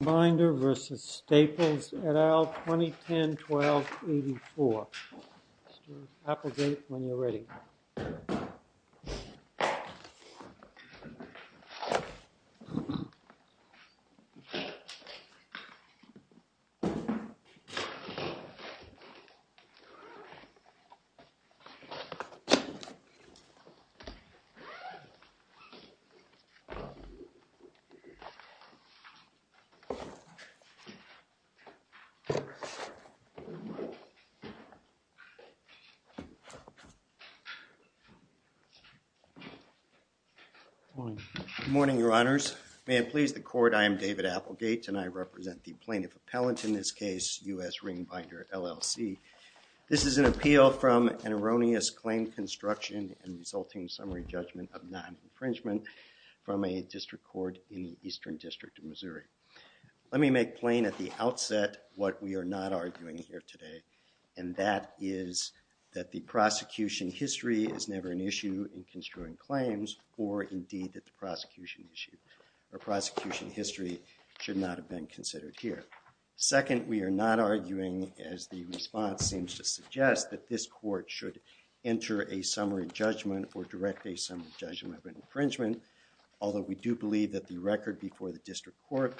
RING BINDER v. STAPLES et al. 2010-12-84 Applegate when you're ready. Good morning, your honors. May it please the court, I am David Applegate and I represent the plaintiff appellant in this case, US RING BINDER LLC. This is an appeal from an erroneous claim construction and resulting summary judgment of non-infringement from a district court in the Eastern District of Missouri. Let me make plain at the outset what we are not arguing here today and that is that the prosecution history is never an issue in construing claims or indeed that the prosecution history should not have been considered here. Second, we are not arguing as the response seems to suggest that this court should enter a summary judgment or direct a summary judgment of infringement, although we do believe that the record before the district court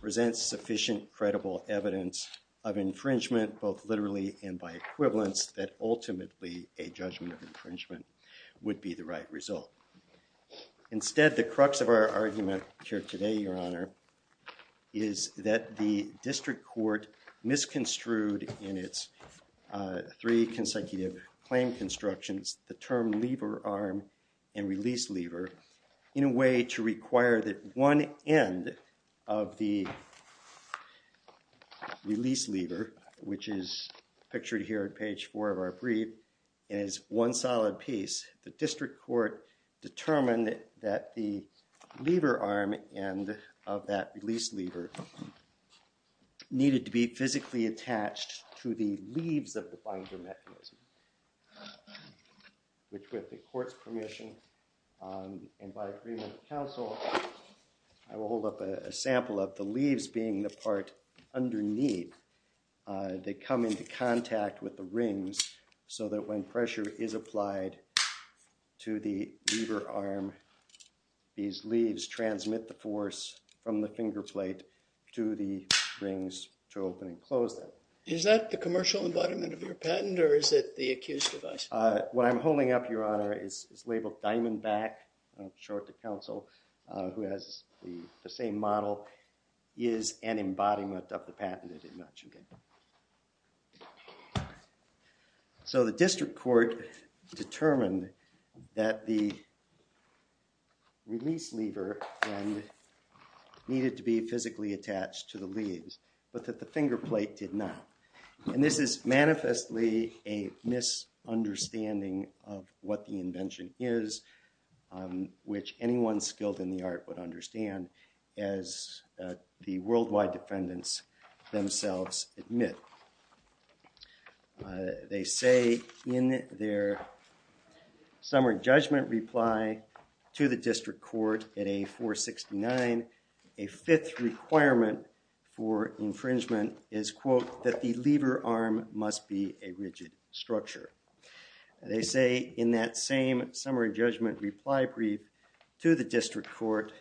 presents sufficient credible evidence of infringement both literally and by equivalence that ultimately a judgment of infringement would be the right result. Instead, the crux of our argument here today, your honor, is that the district court misconstrued in its three consecutive claim constructions, the term lever arm and release lever in a way to require that one end of the release lever, which is pictured here at page four of our brief, is one solid piece. The district court determined that the lever arm and of that release lever needed to be physically attached to the leaves of the binder mechanism, which with the court's permission and by agreement of counsel, I will hold up a sample of the leaves being the part underneath. They come into contact with the rings so that when pressure is applied to the lever arm, these leaves transmit the force from the finger plate to the rings to open and close them. Is that the commercial embodiment of your patent or is it the accused device? What I'm holding up, your honor, is labeled Diamondback, short to counsel, who has the same model is an embodiment of the patent. So the district court determined that the release lever needed to be physically attached to the leaves, but that the finger plate did not. And this is manifestly a misunderstanding of what the invention is, which anyone skilled in the art would understand as the worldwide defendants themselves admit. They say in their summer judgment reply to the district court at a 469, a fifth requirement for infringement is, quote, that the lever arm must be a rigid structure. They say in that same summary judgment reply brief to the district court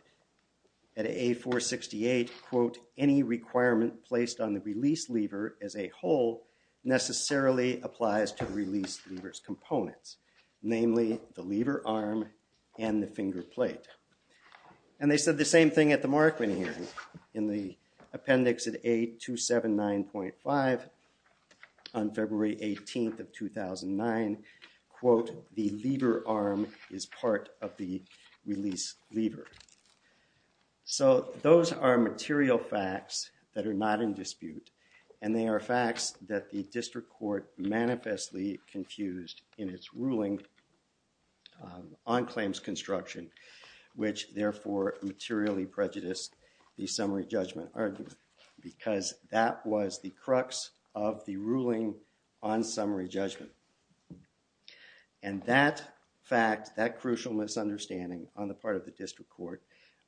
at a 468, quote, any requirement placed on the release lever as a whole necessarily applies to release levers components, namely the lever arm and the finger plate. And they said the same thing at the 469, quote, the lever arm is part of the release lever. So those are material facts that are not in dispute and they are facts that the district court manifestly confused in its ruling on claims construction, which therefore materially prejudiced the summary judgment argument because that was the crux of the ruling on summary judgment. And that fact, that crucial misunderstanding on the part of the district court,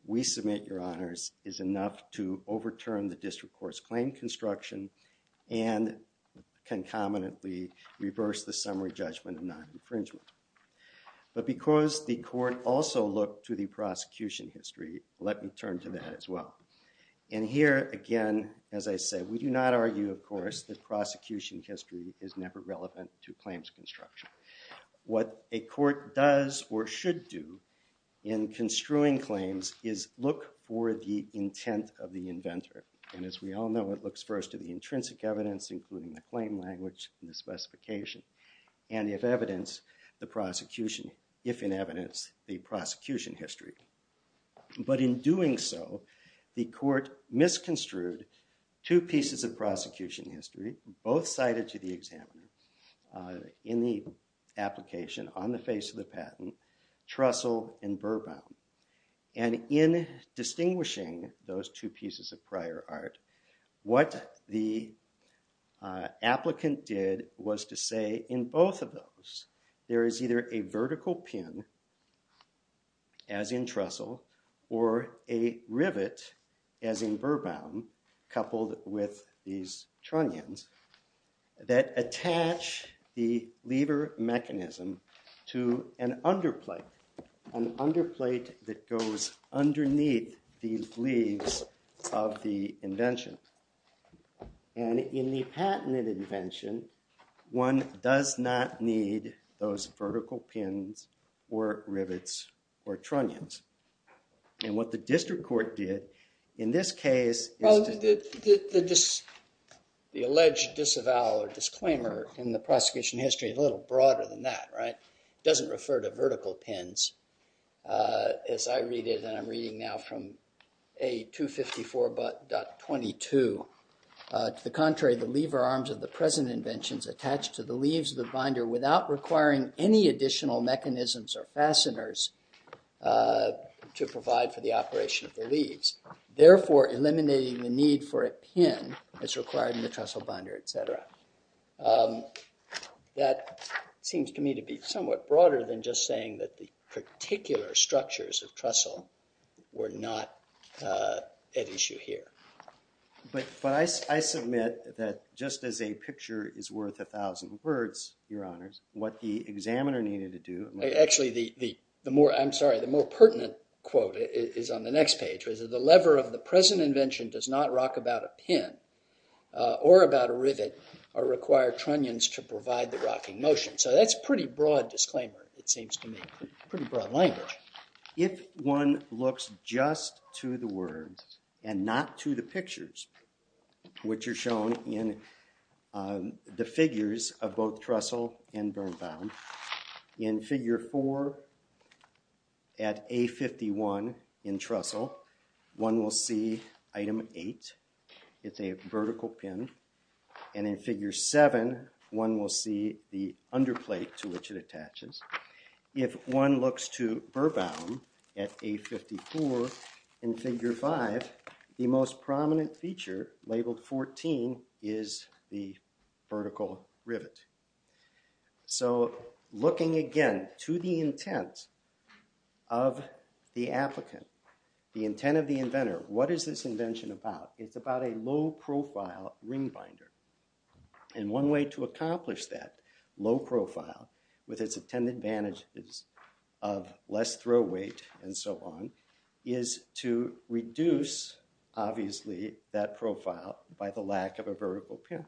we submit, your honors, is enough to overturn the district court's claim construction and concomitantly reverse the summary judgment of non-infringement. But because the court also looked to the prosecution history, let me turn to that as well. And here again, as I said, we do not argue, of course, that prosecution history is never relevant to claims construction. What a court does or should do in construing claims is look for the intent of the inventor. And as we all know, it looks first to the intrinsic evidence, including the claim language and the specification, and if evidence, the prosecution, if in evidence, the prosecution history. But in doing so, the court misconstrued two pieces of prosecution history, both cited to the examiner in the application on the face of the patent, Trussell and Burbaum. And in distinguishing those two pieces of prior art, what the applicant did was to say in both of those, there is either a vertical pin, as in Trussell, or a rivet, as in Burbaum, coupled with these trunnions that attach the lever mechanism to an underplate, an underplate that goes underneath these leaves of the invention. And in the patented invention, one does not need those vertical pins or rivets or trunnions. And what the district court did in this case... Well, the alleged disavowal or disclaimer in the prosecution history is a little broader than that, right? It doesn't refer to vertical pins. As I read it, and I'm reading now from A254.22, to the contrary, the lever arms of the present inventions attach to the leaves of the binder without requiring any additional mechanisms or fasteners to provide for the operation of the leaves. Therefore, eliminating the need for a pin is required in the Trussell binder, etc. That seems to me to be somewhat broader than just saying that the particular structures of Trussell were not at issue here. But I submit that just as a picture is worth a thousand words, Your Honors, what the examiner needed to do... Actually, the more pertinent quote is on the next page, which is, the lever of the present invention does not It seems to me pretty broad language. If one looks just to the words and not to the pictures, which are shown in the figures of both Trussell and Birnbaum, in figure four at A51 in Trussell, one will see item eight. It's a vertical pin. And in figure seven, one will see the underplate to which it attaches. If one looks to Birnbaum at A54 in figure five, the most prominent feature, labeled 14, is the vertical rivet. So, looking again to the intent of the applicant, the intent of the inventor, what is this invention about? It's about a low-profile ring binder. And one way to accomplish that low profile with its 10 advantages of less throw weight and so on, is to reduce, obviously, that profile by the lack of a vertical pin.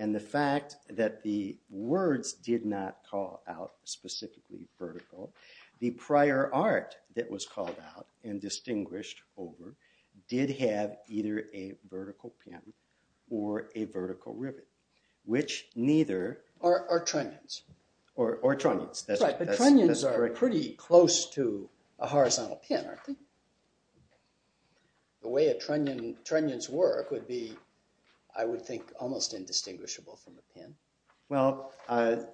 And the fact that the words did not call out specifically vertical, the prior art that was called out and distinguished over did have either a vertical pin or a vertical rivet, which neither... Or trunnions. Or trunnions. Right, but trunnions are pretty close to a horizontal pin, aren't they? The way a trunnion's work would be, I would think, almost indistinguishable from a pin. Well,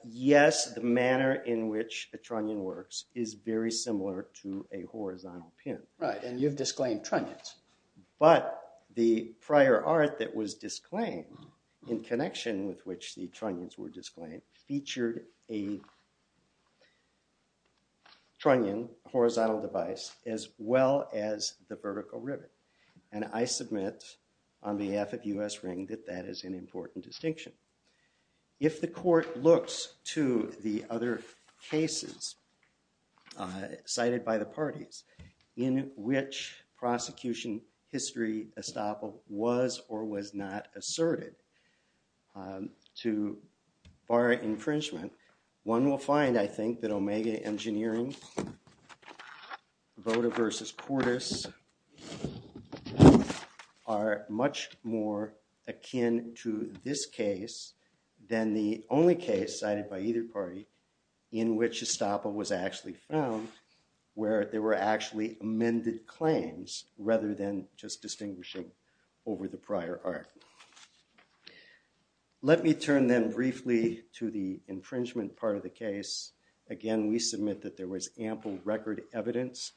yes, the manner in which a trunnion works is very similar to a horizontal pin. Right, and you've disclaimed trunnions. But the prior art that was disclaimed, in connection with which the trunnions were disclaimed, featured a horizontal device as well as the vertical rivet. And I submit, on behalf of U.S. Ring, that that is an important distinction. If the court looks to the other cases cited by the parties in which prosecution history estoppel was or was not asserted to bar infringement, one will find, I think, that Omega Engineering, Voda versus Portis, are much more akin to this case than the only case cited by either party in which estoppel was actually found, where there were actually amended claims rather than just distinguishing over the prior art. Let me turn then briefly to the infringement part of the case. Again, we submit that there was ample record evidence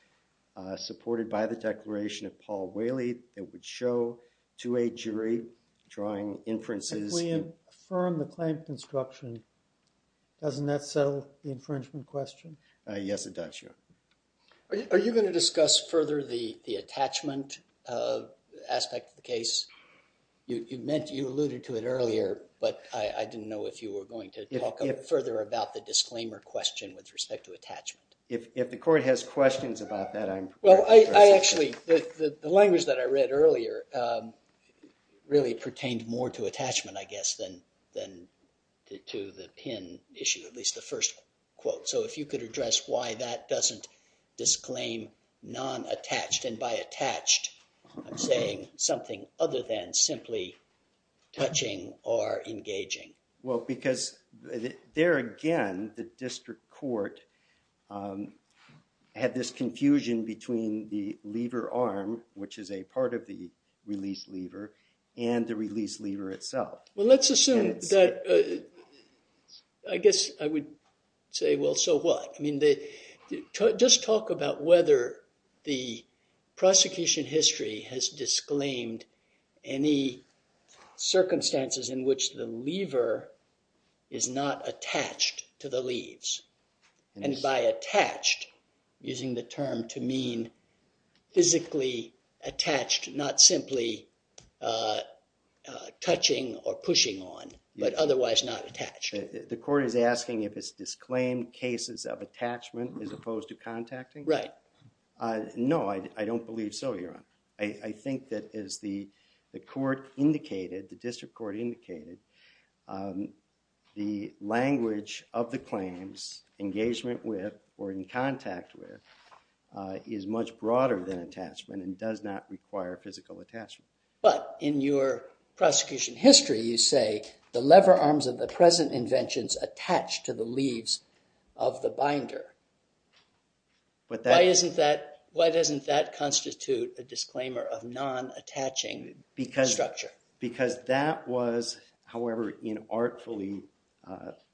supported by the declaration of Paul Whaley that would show to a jury drawing inferences. If we affirm the claim construction, doesn't that settle the infringement question? Yes, it does, your honor. Are you going to discuss further the attachment aspect of the case? You alluded to it earlier, but I didn't know if you were going to talk further about the disclaimer question with respect to attachment. If the court has questions about that, I'm— Well, I actually—the language that I read earlier really pertained more to attachment, I guess, than to the pin issue, at least the first quote. So if you could address why that doesn't disclaim non-attached. And by attached, I'm saying something other than simply touching or engaging. Well, because there again, the district court had this confusion between the lever arm, which is a part of the release lever, and the release lever itself. Well, let's assume that—I guess I would say, well, so what? I mean, just talk about whether the prosecution history has disclaimed any circumstances in which the lever is not attached to the leaves. And by attached, using the term to mean physically attached, not simply touching or pushing on, but otherwise not attached. The court is asking if it's disclaimed cases of attachment as opposed to contacting? Right. No, I don't believe so, Your Honor. I think that as the court indicated, the district court indicated, the language of the claims, engagement with or in contact with, is much broader than attachment and does not require physical attachment. But in your prosecution history, you say the lever arms of the present inventions attached to the leaves of the binder. Why doesn't that constitute a disclaimer of non-attaching structure? Because that was, however artfully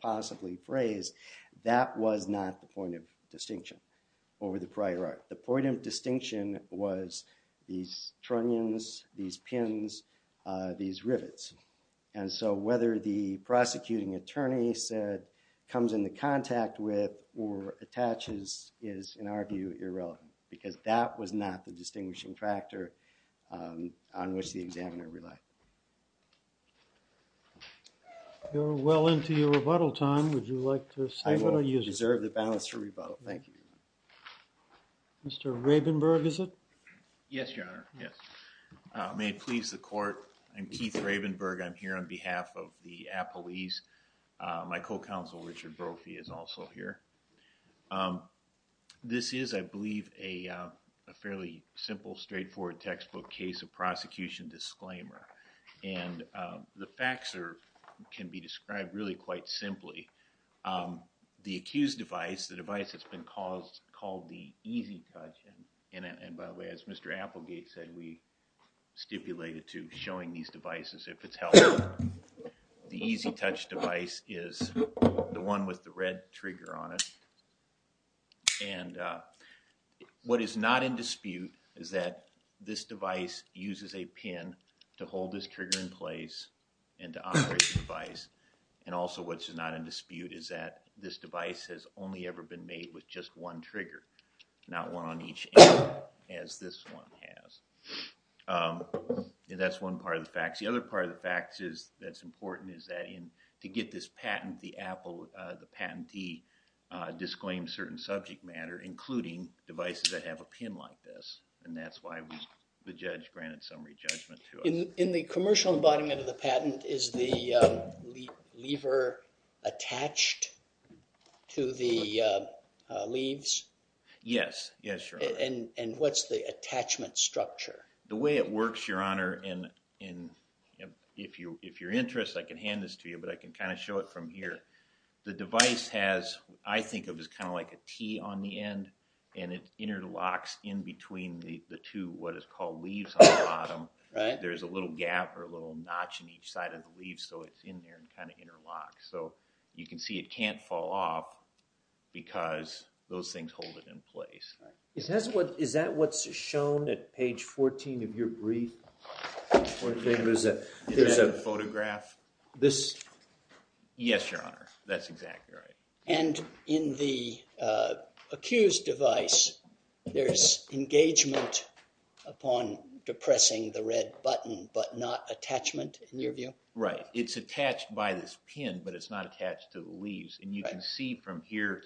possibly phrased, that was not the point of distinction over the prior art. The point of distinction was these trunnions, these pins, these rivets. And so, whether the prosecuting attorney said comes into contact with or attaches is, in our view, irrelevant because that was not the distinguishing factor on which the examiner relied. You're well into your rebuttal time. Would you like to say what I used? I will reserve the balance for rebuttal. Thank you. Mr. Rabenberg, is it? Yes, Your Honor, yes. May it please the court, I'm Keith Rabenberg. I'm here on behalf of the Appalese. My co-counsel, Richard Brophy, is also here. This is, I believe, a fairly simple, straightforward textbook case of prosecution disclaimer. And the facts can be described really quite simply. Um, the accused device, the device that's been caused, called the EasyTouch, and by the way, as Mr. Applegate said, we stipulated to showing these devices if it's held. The EasyTouch device is the one with the red trigger on it. And what is not in dispute is that this device uses a pin to hold this trigger in place and to operate the device. And also what's not in dispute is that this device has only ever been made with just one trigger, not one on each end as this one has. That's one part of the facts. The other part of the facts is that's important is that in, to get this patent, the Apple, the patentee, disclaimed certain subject matter, including devices that have a pin like this. And that's why the judge granted summary judgment to us. In the commercial embodiment of the patent, is the lever attached to the leaves? Yes. Yes, Your Honor. And what's the attachment structure? The way it works, Your Honor, and if you're interested, I can hand this to you, but I can kind of show it from here. The device has, I think it was kind of like a T on the end, and it interlocks in between the two, what is called leaves on the bottom. Right. There's a little gap or a little notch in each side of the leaves, so it's in there and kind of interlocks. So you can see it can't fall off because those things hold it in place. Is that what's shown at page 14 of your brief? There's a photograph. Yes, Your Honor. That's exactly right. And in the accused device, there's engagement upon depressing the red button, but not attachment in your view? Right. It's attached by this pin, but it's not attached to the leaves. And you can see from here,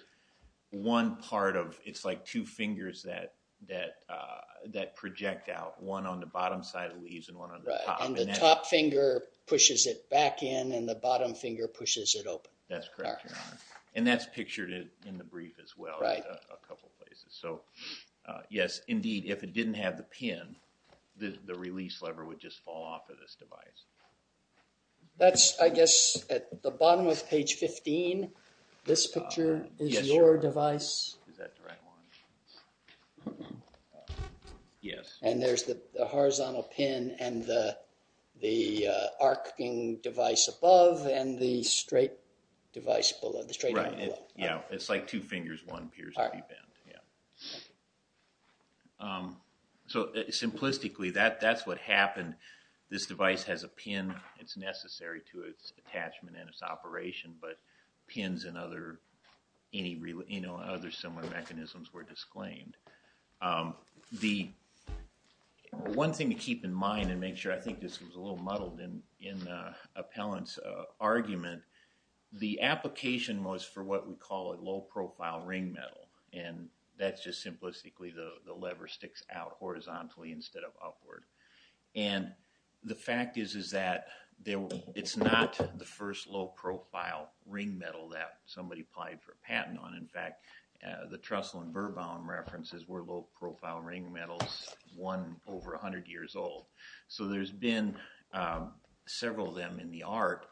one part of, it's like two fingers that project out, one on the bottom side of the leaves and one on the top. And the top finger pushes it back in and the bottom finger pushes it open. That's correct, Your Honor. And that's pictured in the brief as well, a couple places. So yes, indeed, if it didn't have the pin, the release lever would just fall off of this device. That's, I guess, at the bottom of page 15, this picture is your device? Is that the right one? Yes. And there's the horizontal pin and the arcing device above and the straight device below, the straight one below. Yeah, it's like two fingers, one appears to be bent. So simplistically, that's what happened. This device has a pin. It's necessary to its attachment and its operation, but pins and other similar mechanisms were disclaimed. The one thing to keep in mind and make sure, I think this was a little muddled in Appellant's argument, the application was for what we call a low-profile ring metal. And that's just simplistically the lever sticks out horizontally instead of upward. And the fact is, is that it's not the first low-profile ring metal that somebody applied for a patent on. In fact, the Trussell and Birbaum references were low-profile ring metals, one over 100 years old. So there's been several of them in the art.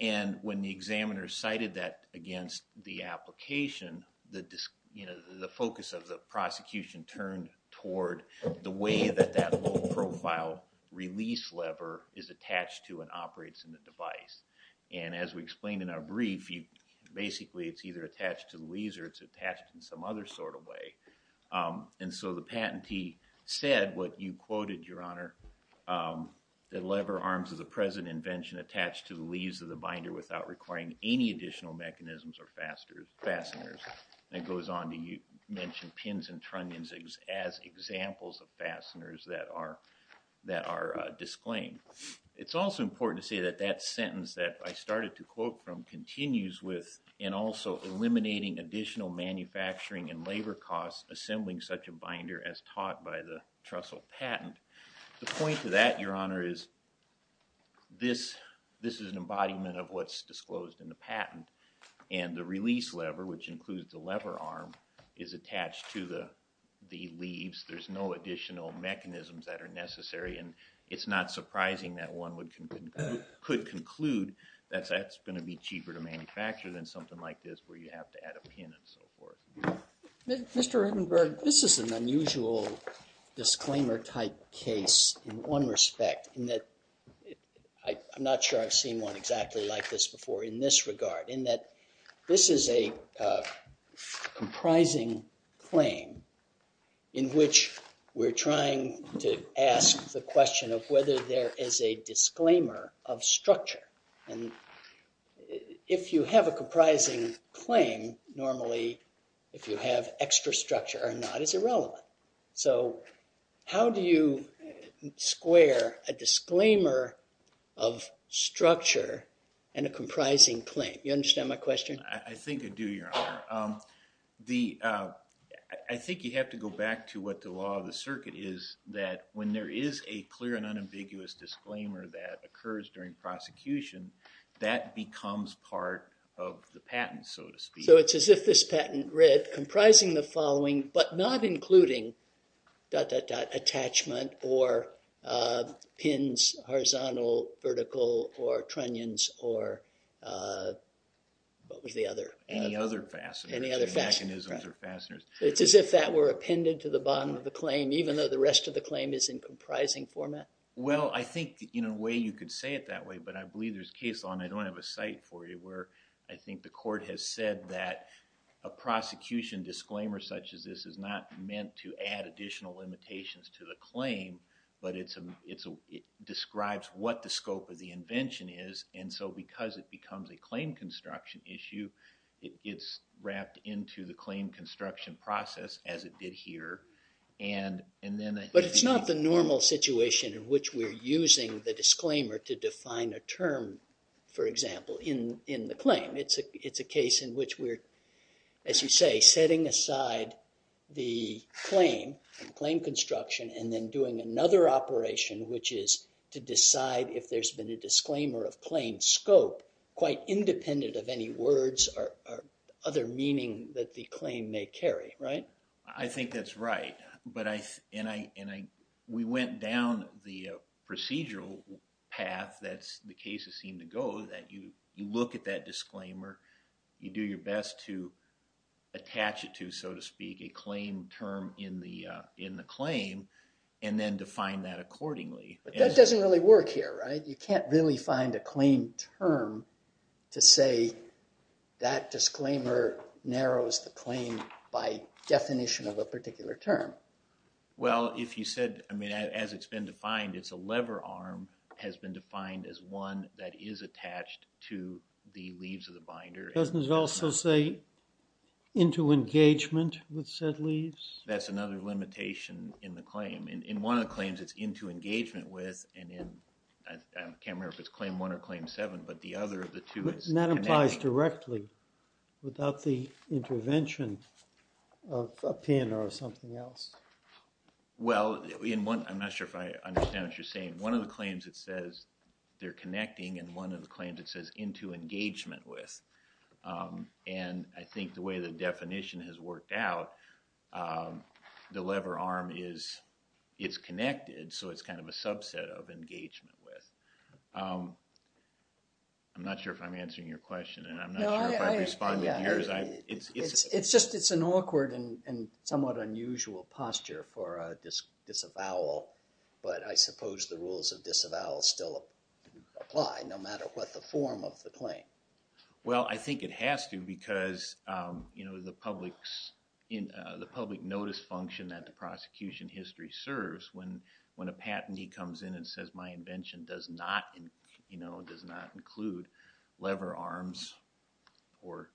And when the examiner cited that against the application, the focus of the prosecution turned toward the way that that low-profile release lever is attached to and operates in the device. And as we explained in our brief, basically, it's either attached to the leaves or it's attached in some other sort of way. And so the patentee said what you quoted, Your Honor, the lever arms is a present invention attached to the leaves of the binder without requiring any additional mechanisms or fasteners. And it goes on to mention pins and trunnions as examples of fasteners that are disclaimed. It's also important to say that that sentence that I started to quote from continues with and also eliminating additional manufacturing and labor costs assembling such a binder as taught by the Trussell patent. The point of that, Your Honor, is this is an embodiment of what's disclosed in the patent. And the release lever, which includes the lever arm, is attached to the leaves. There's no additional mechanisms that are necessary. And it's not surprising that one could conclude that that's going to be cheaper to manufacture than something like this where you have to add a pin and so forth. Mr. Redenberg, this is an unusual disclaimer type case in one respect, in that I'm not sure I've seen one exactly like this before in this regard, in that this is a comprising claim in which we're trying to ask the question of whether there is a disclaimer of structure. And if you have a comprising claim, normally, if you have extra structure or not, it's irrelevant. So how do you square a disclaimer of structure and a comprising claim? You understand my question? I think I do, Your Honor. The—I think you have to go back to what the law of the circuit is, that when there is a clear and unambiguous disclaimer that occurs during prosecution, that becomes part of the patent, so to speak. So it's as if this patent read, comprising the following, but not including dot, dot, dot, attachment or pins, horizontal, vertical, or trunnions, or what was the other? Any other fasteners. Any other fasteners, right. It's as if that were appended to the bottom of the claim, even though the rest of the claim is in comprising format? Well, I think in a way you could say it that way, but I believe there's case law, and I don't have a site for you, where I think the court has said that a prosecution disclaimer such as this is not meant to add additional limitations to the claim, but it describes what the scope of the invention is. And so because it becomes a claim construction issue, it's wrapped into the claim construction process as it did here, and then— But it's not the normal situation in which we're using the disclaimer to define a term, for example, in the claim. It's a case in which we're, as you say, setting aside the claim, claim construction, and then doing another operation, which is to decide if there's been a disclaimer of claim scope, quite independent of any words or other meaning that the claim may carry, right? I think that's right, and we went down the procedural path that the cases seem to go, that you look at that disclaimer, you do your best to attach it to, so to speak, a claim term in the claim, and then define that accordingly. But that doesn't really work here, right? You can't really find a claim term to say that disclaimer narrows the claim by definition of a particular term. Well, if you said, I mean, as it's been defined, it's a lever arm has been defined as one that is attached to the leaves of the binder. Doesn't it also say into engagement with said leaves? That's another limitation in the claim. In one of the claims, it's into engagement with, and I can't remember if it's claim one or claim seven, but the other of the two is connecting. That implies directly without the intervention of a pin or something else. Well, I'm not sure if I understand what you're saying. One of the claims, it says they're connecting, and one of the claims, it says into engagement with, and I think the way the definition has worked out, the lever arm is, it's connected, so it's kind of a subset of engagement with. I'm not sure if I'm answering your question, and I'm not sure if I responded to yours. It's just, it's an awkward and somewhat unusual posture for a disavowal, but I suppose the rules of disavowal still apply no matter what the form of the claim. Well, I think it has to because the public notice function that the prosecution history serves, when a patentee comes in and says my invention does not include lever arms or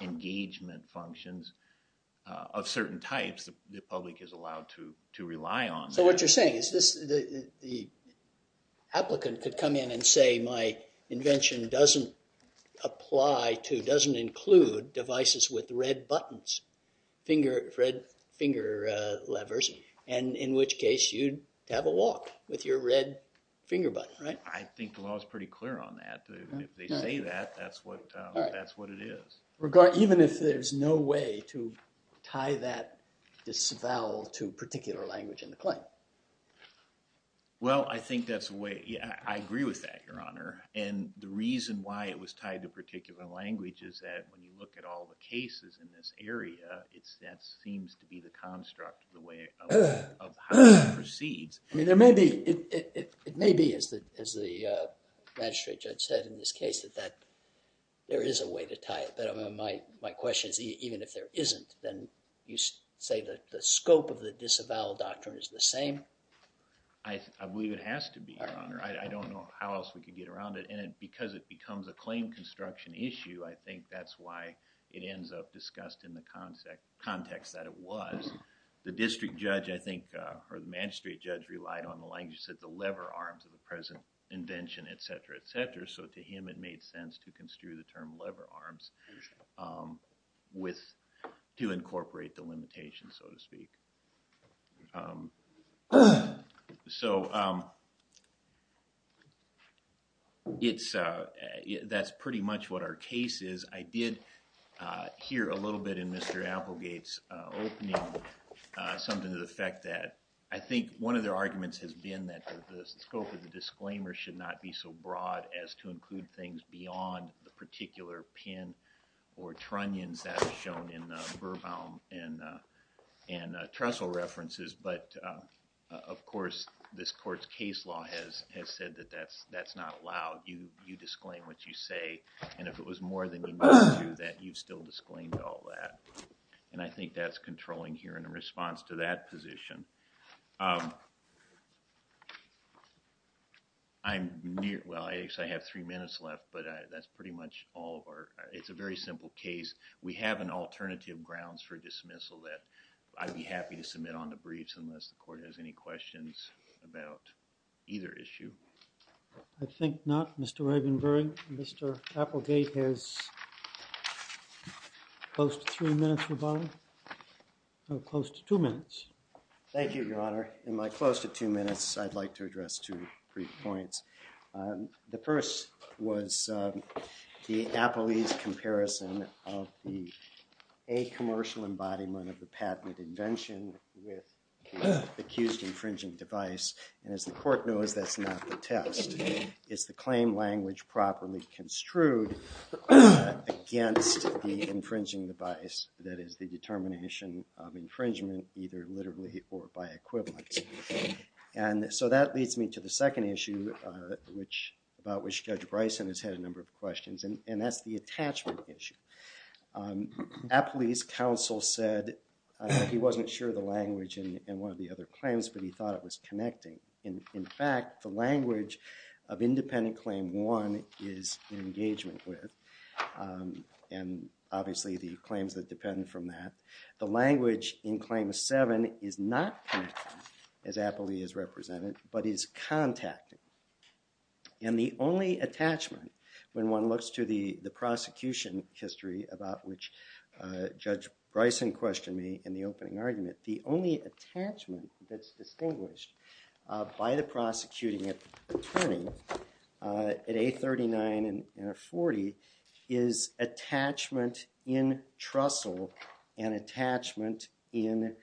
engagement functions of certain types, the public is allowed to rely on that. What you're saying is the applicant could come in and say my invention doesn't apply to, doesn't include devices with red buttons, red finger levers, and in which case you'd have a walk with your red finger button, right? I think the law is pretty clear on that. If they say that, that's what it is. Even if there's no way to tie that disavowal to particular language in the claim. Well, I think that's the way, yeah, I agree with that, Your Honor. And the reason why it was tied to particular language is that when you look at all the cases in this area, that seems to be the construct of the way, of how it proceeds. I mean, there may be, it may be as the magistrate judge said in this case, that there is a way to tie it, but my question is even if there isn't, then you say that the scope of the disavowal doctrine is the same? I believe it has to be, Your Honor. I don't know how else we could get around it. And because it becomes a claim construction issue, I think that's why it ends up discussed in the context that it was. The district judge, I think, or the magistrate judge relied on the language that said the lever arms of the present invention, et cetera, et cetera. So to him, it made sense to construe the term lever arms with, to incorporate the limitations, so to speak. So it's, that's pretty much what our case is. I did hear a little bit in Mr. Applegate's opening, something to the effect that I think one of their arguments has been that the scope of the disclaimer should not be so broad as to include things beyond the particular pin or trunnions that are shown in the Burbaum and Trestle references. But of course, this court's case law has said that that's not allowed. You disclaim what you say, and if it was more than you need to do that, you'd still disclaim all that. And I think that's controlling here in response to that position. Um, I'm near, well, I actually have three minutes left, but that's pretty much all of our, it's a very simple case. We have an alternative grounds for dismissal that I'd be happy to submit on the briefs unless the court has any questions about either issue. I think not, Mr. Ravenbury. Mr. Applegate has close to three minutes remaining, or close to two minutes. Thank you, Your Honor. In my close to two minutes, I'd like to address two brief points. The first was the Appele's comparison of the a commercial embodiment of the patented invention with the accused infringing device. And as the court knows, that's not the test. Is the claim language properly construed against the infringing device? That is the determination of infringement either literally or by equivalence. And so that leads me to the second issue, uh, which, about which Judge Bryson has had a number of questions, and, and that's the attachment issue. Um, Appele's counsel said he wasn't sure of the language in, in one of the other claims, but he thought it was connecting. And in fact, the language of independent claim one is engagement with, um, and obviously the claims that depend from that. The language in claim seven is not connected, as Appele has represented, but is contacting. And the only attachment, when one looks to the, the prosecution history, about which, uh, Judge Bryson questioned me in the opening argument, the only attachment that's distinguished, uh, by the prosecuting attorney, uh, at A39 and A40 is attachment in Trussell and attachment in,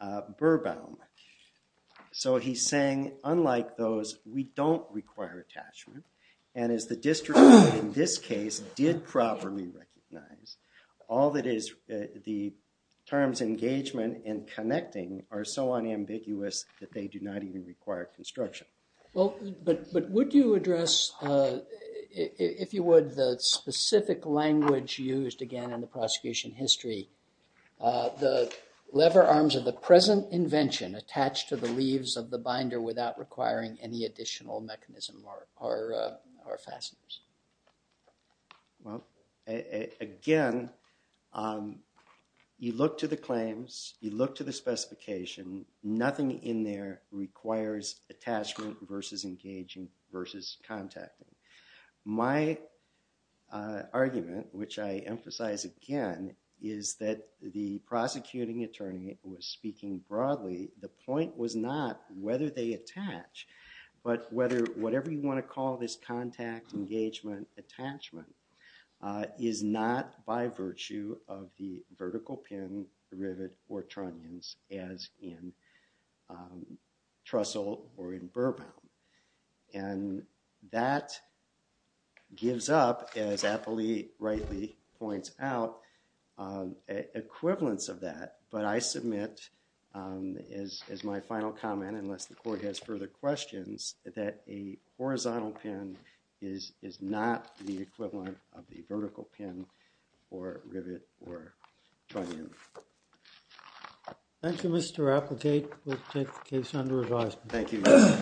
uh, Burbaum. So he's saying, unlike those, we don't require attachment. And as the district, in this case, did properly recognize, all that is, uh, the terms engagement and connecting are so unambiguous that they do not even require construction. Well, but, but would you address, uh, if, if you would, the specific language used again in the prosecution history, uh, the lever arms of the present invention attached to the leaves of the binder without requiring any additional mechanism or, or, uh, or fasteners? Well, a, a, again, um, you look to the claims, you look to the specification, nothing in there requires attachment versus engaging versus contacting. My, uh, argument, which I emphasize again, is that the prosecuting attorney was speaking broadly. The point was not whether they attach, but whether whatever you want to call this contact, engagement, attachment, uh, is not by virtue of the vertical pin, the rivet, or trunnions as in, um, Trussell or in Burbaum. And that gives up, as Apley rightly points out, um, equivalence of that. But I submit, um, as, as my final comment, unless the court has further questions, that a horizontal pin is, is not the equivalent of the vertical pin or rivet or trunnion. Thank you, Mr. Applegate. We'll take the case under advisement. Thank you.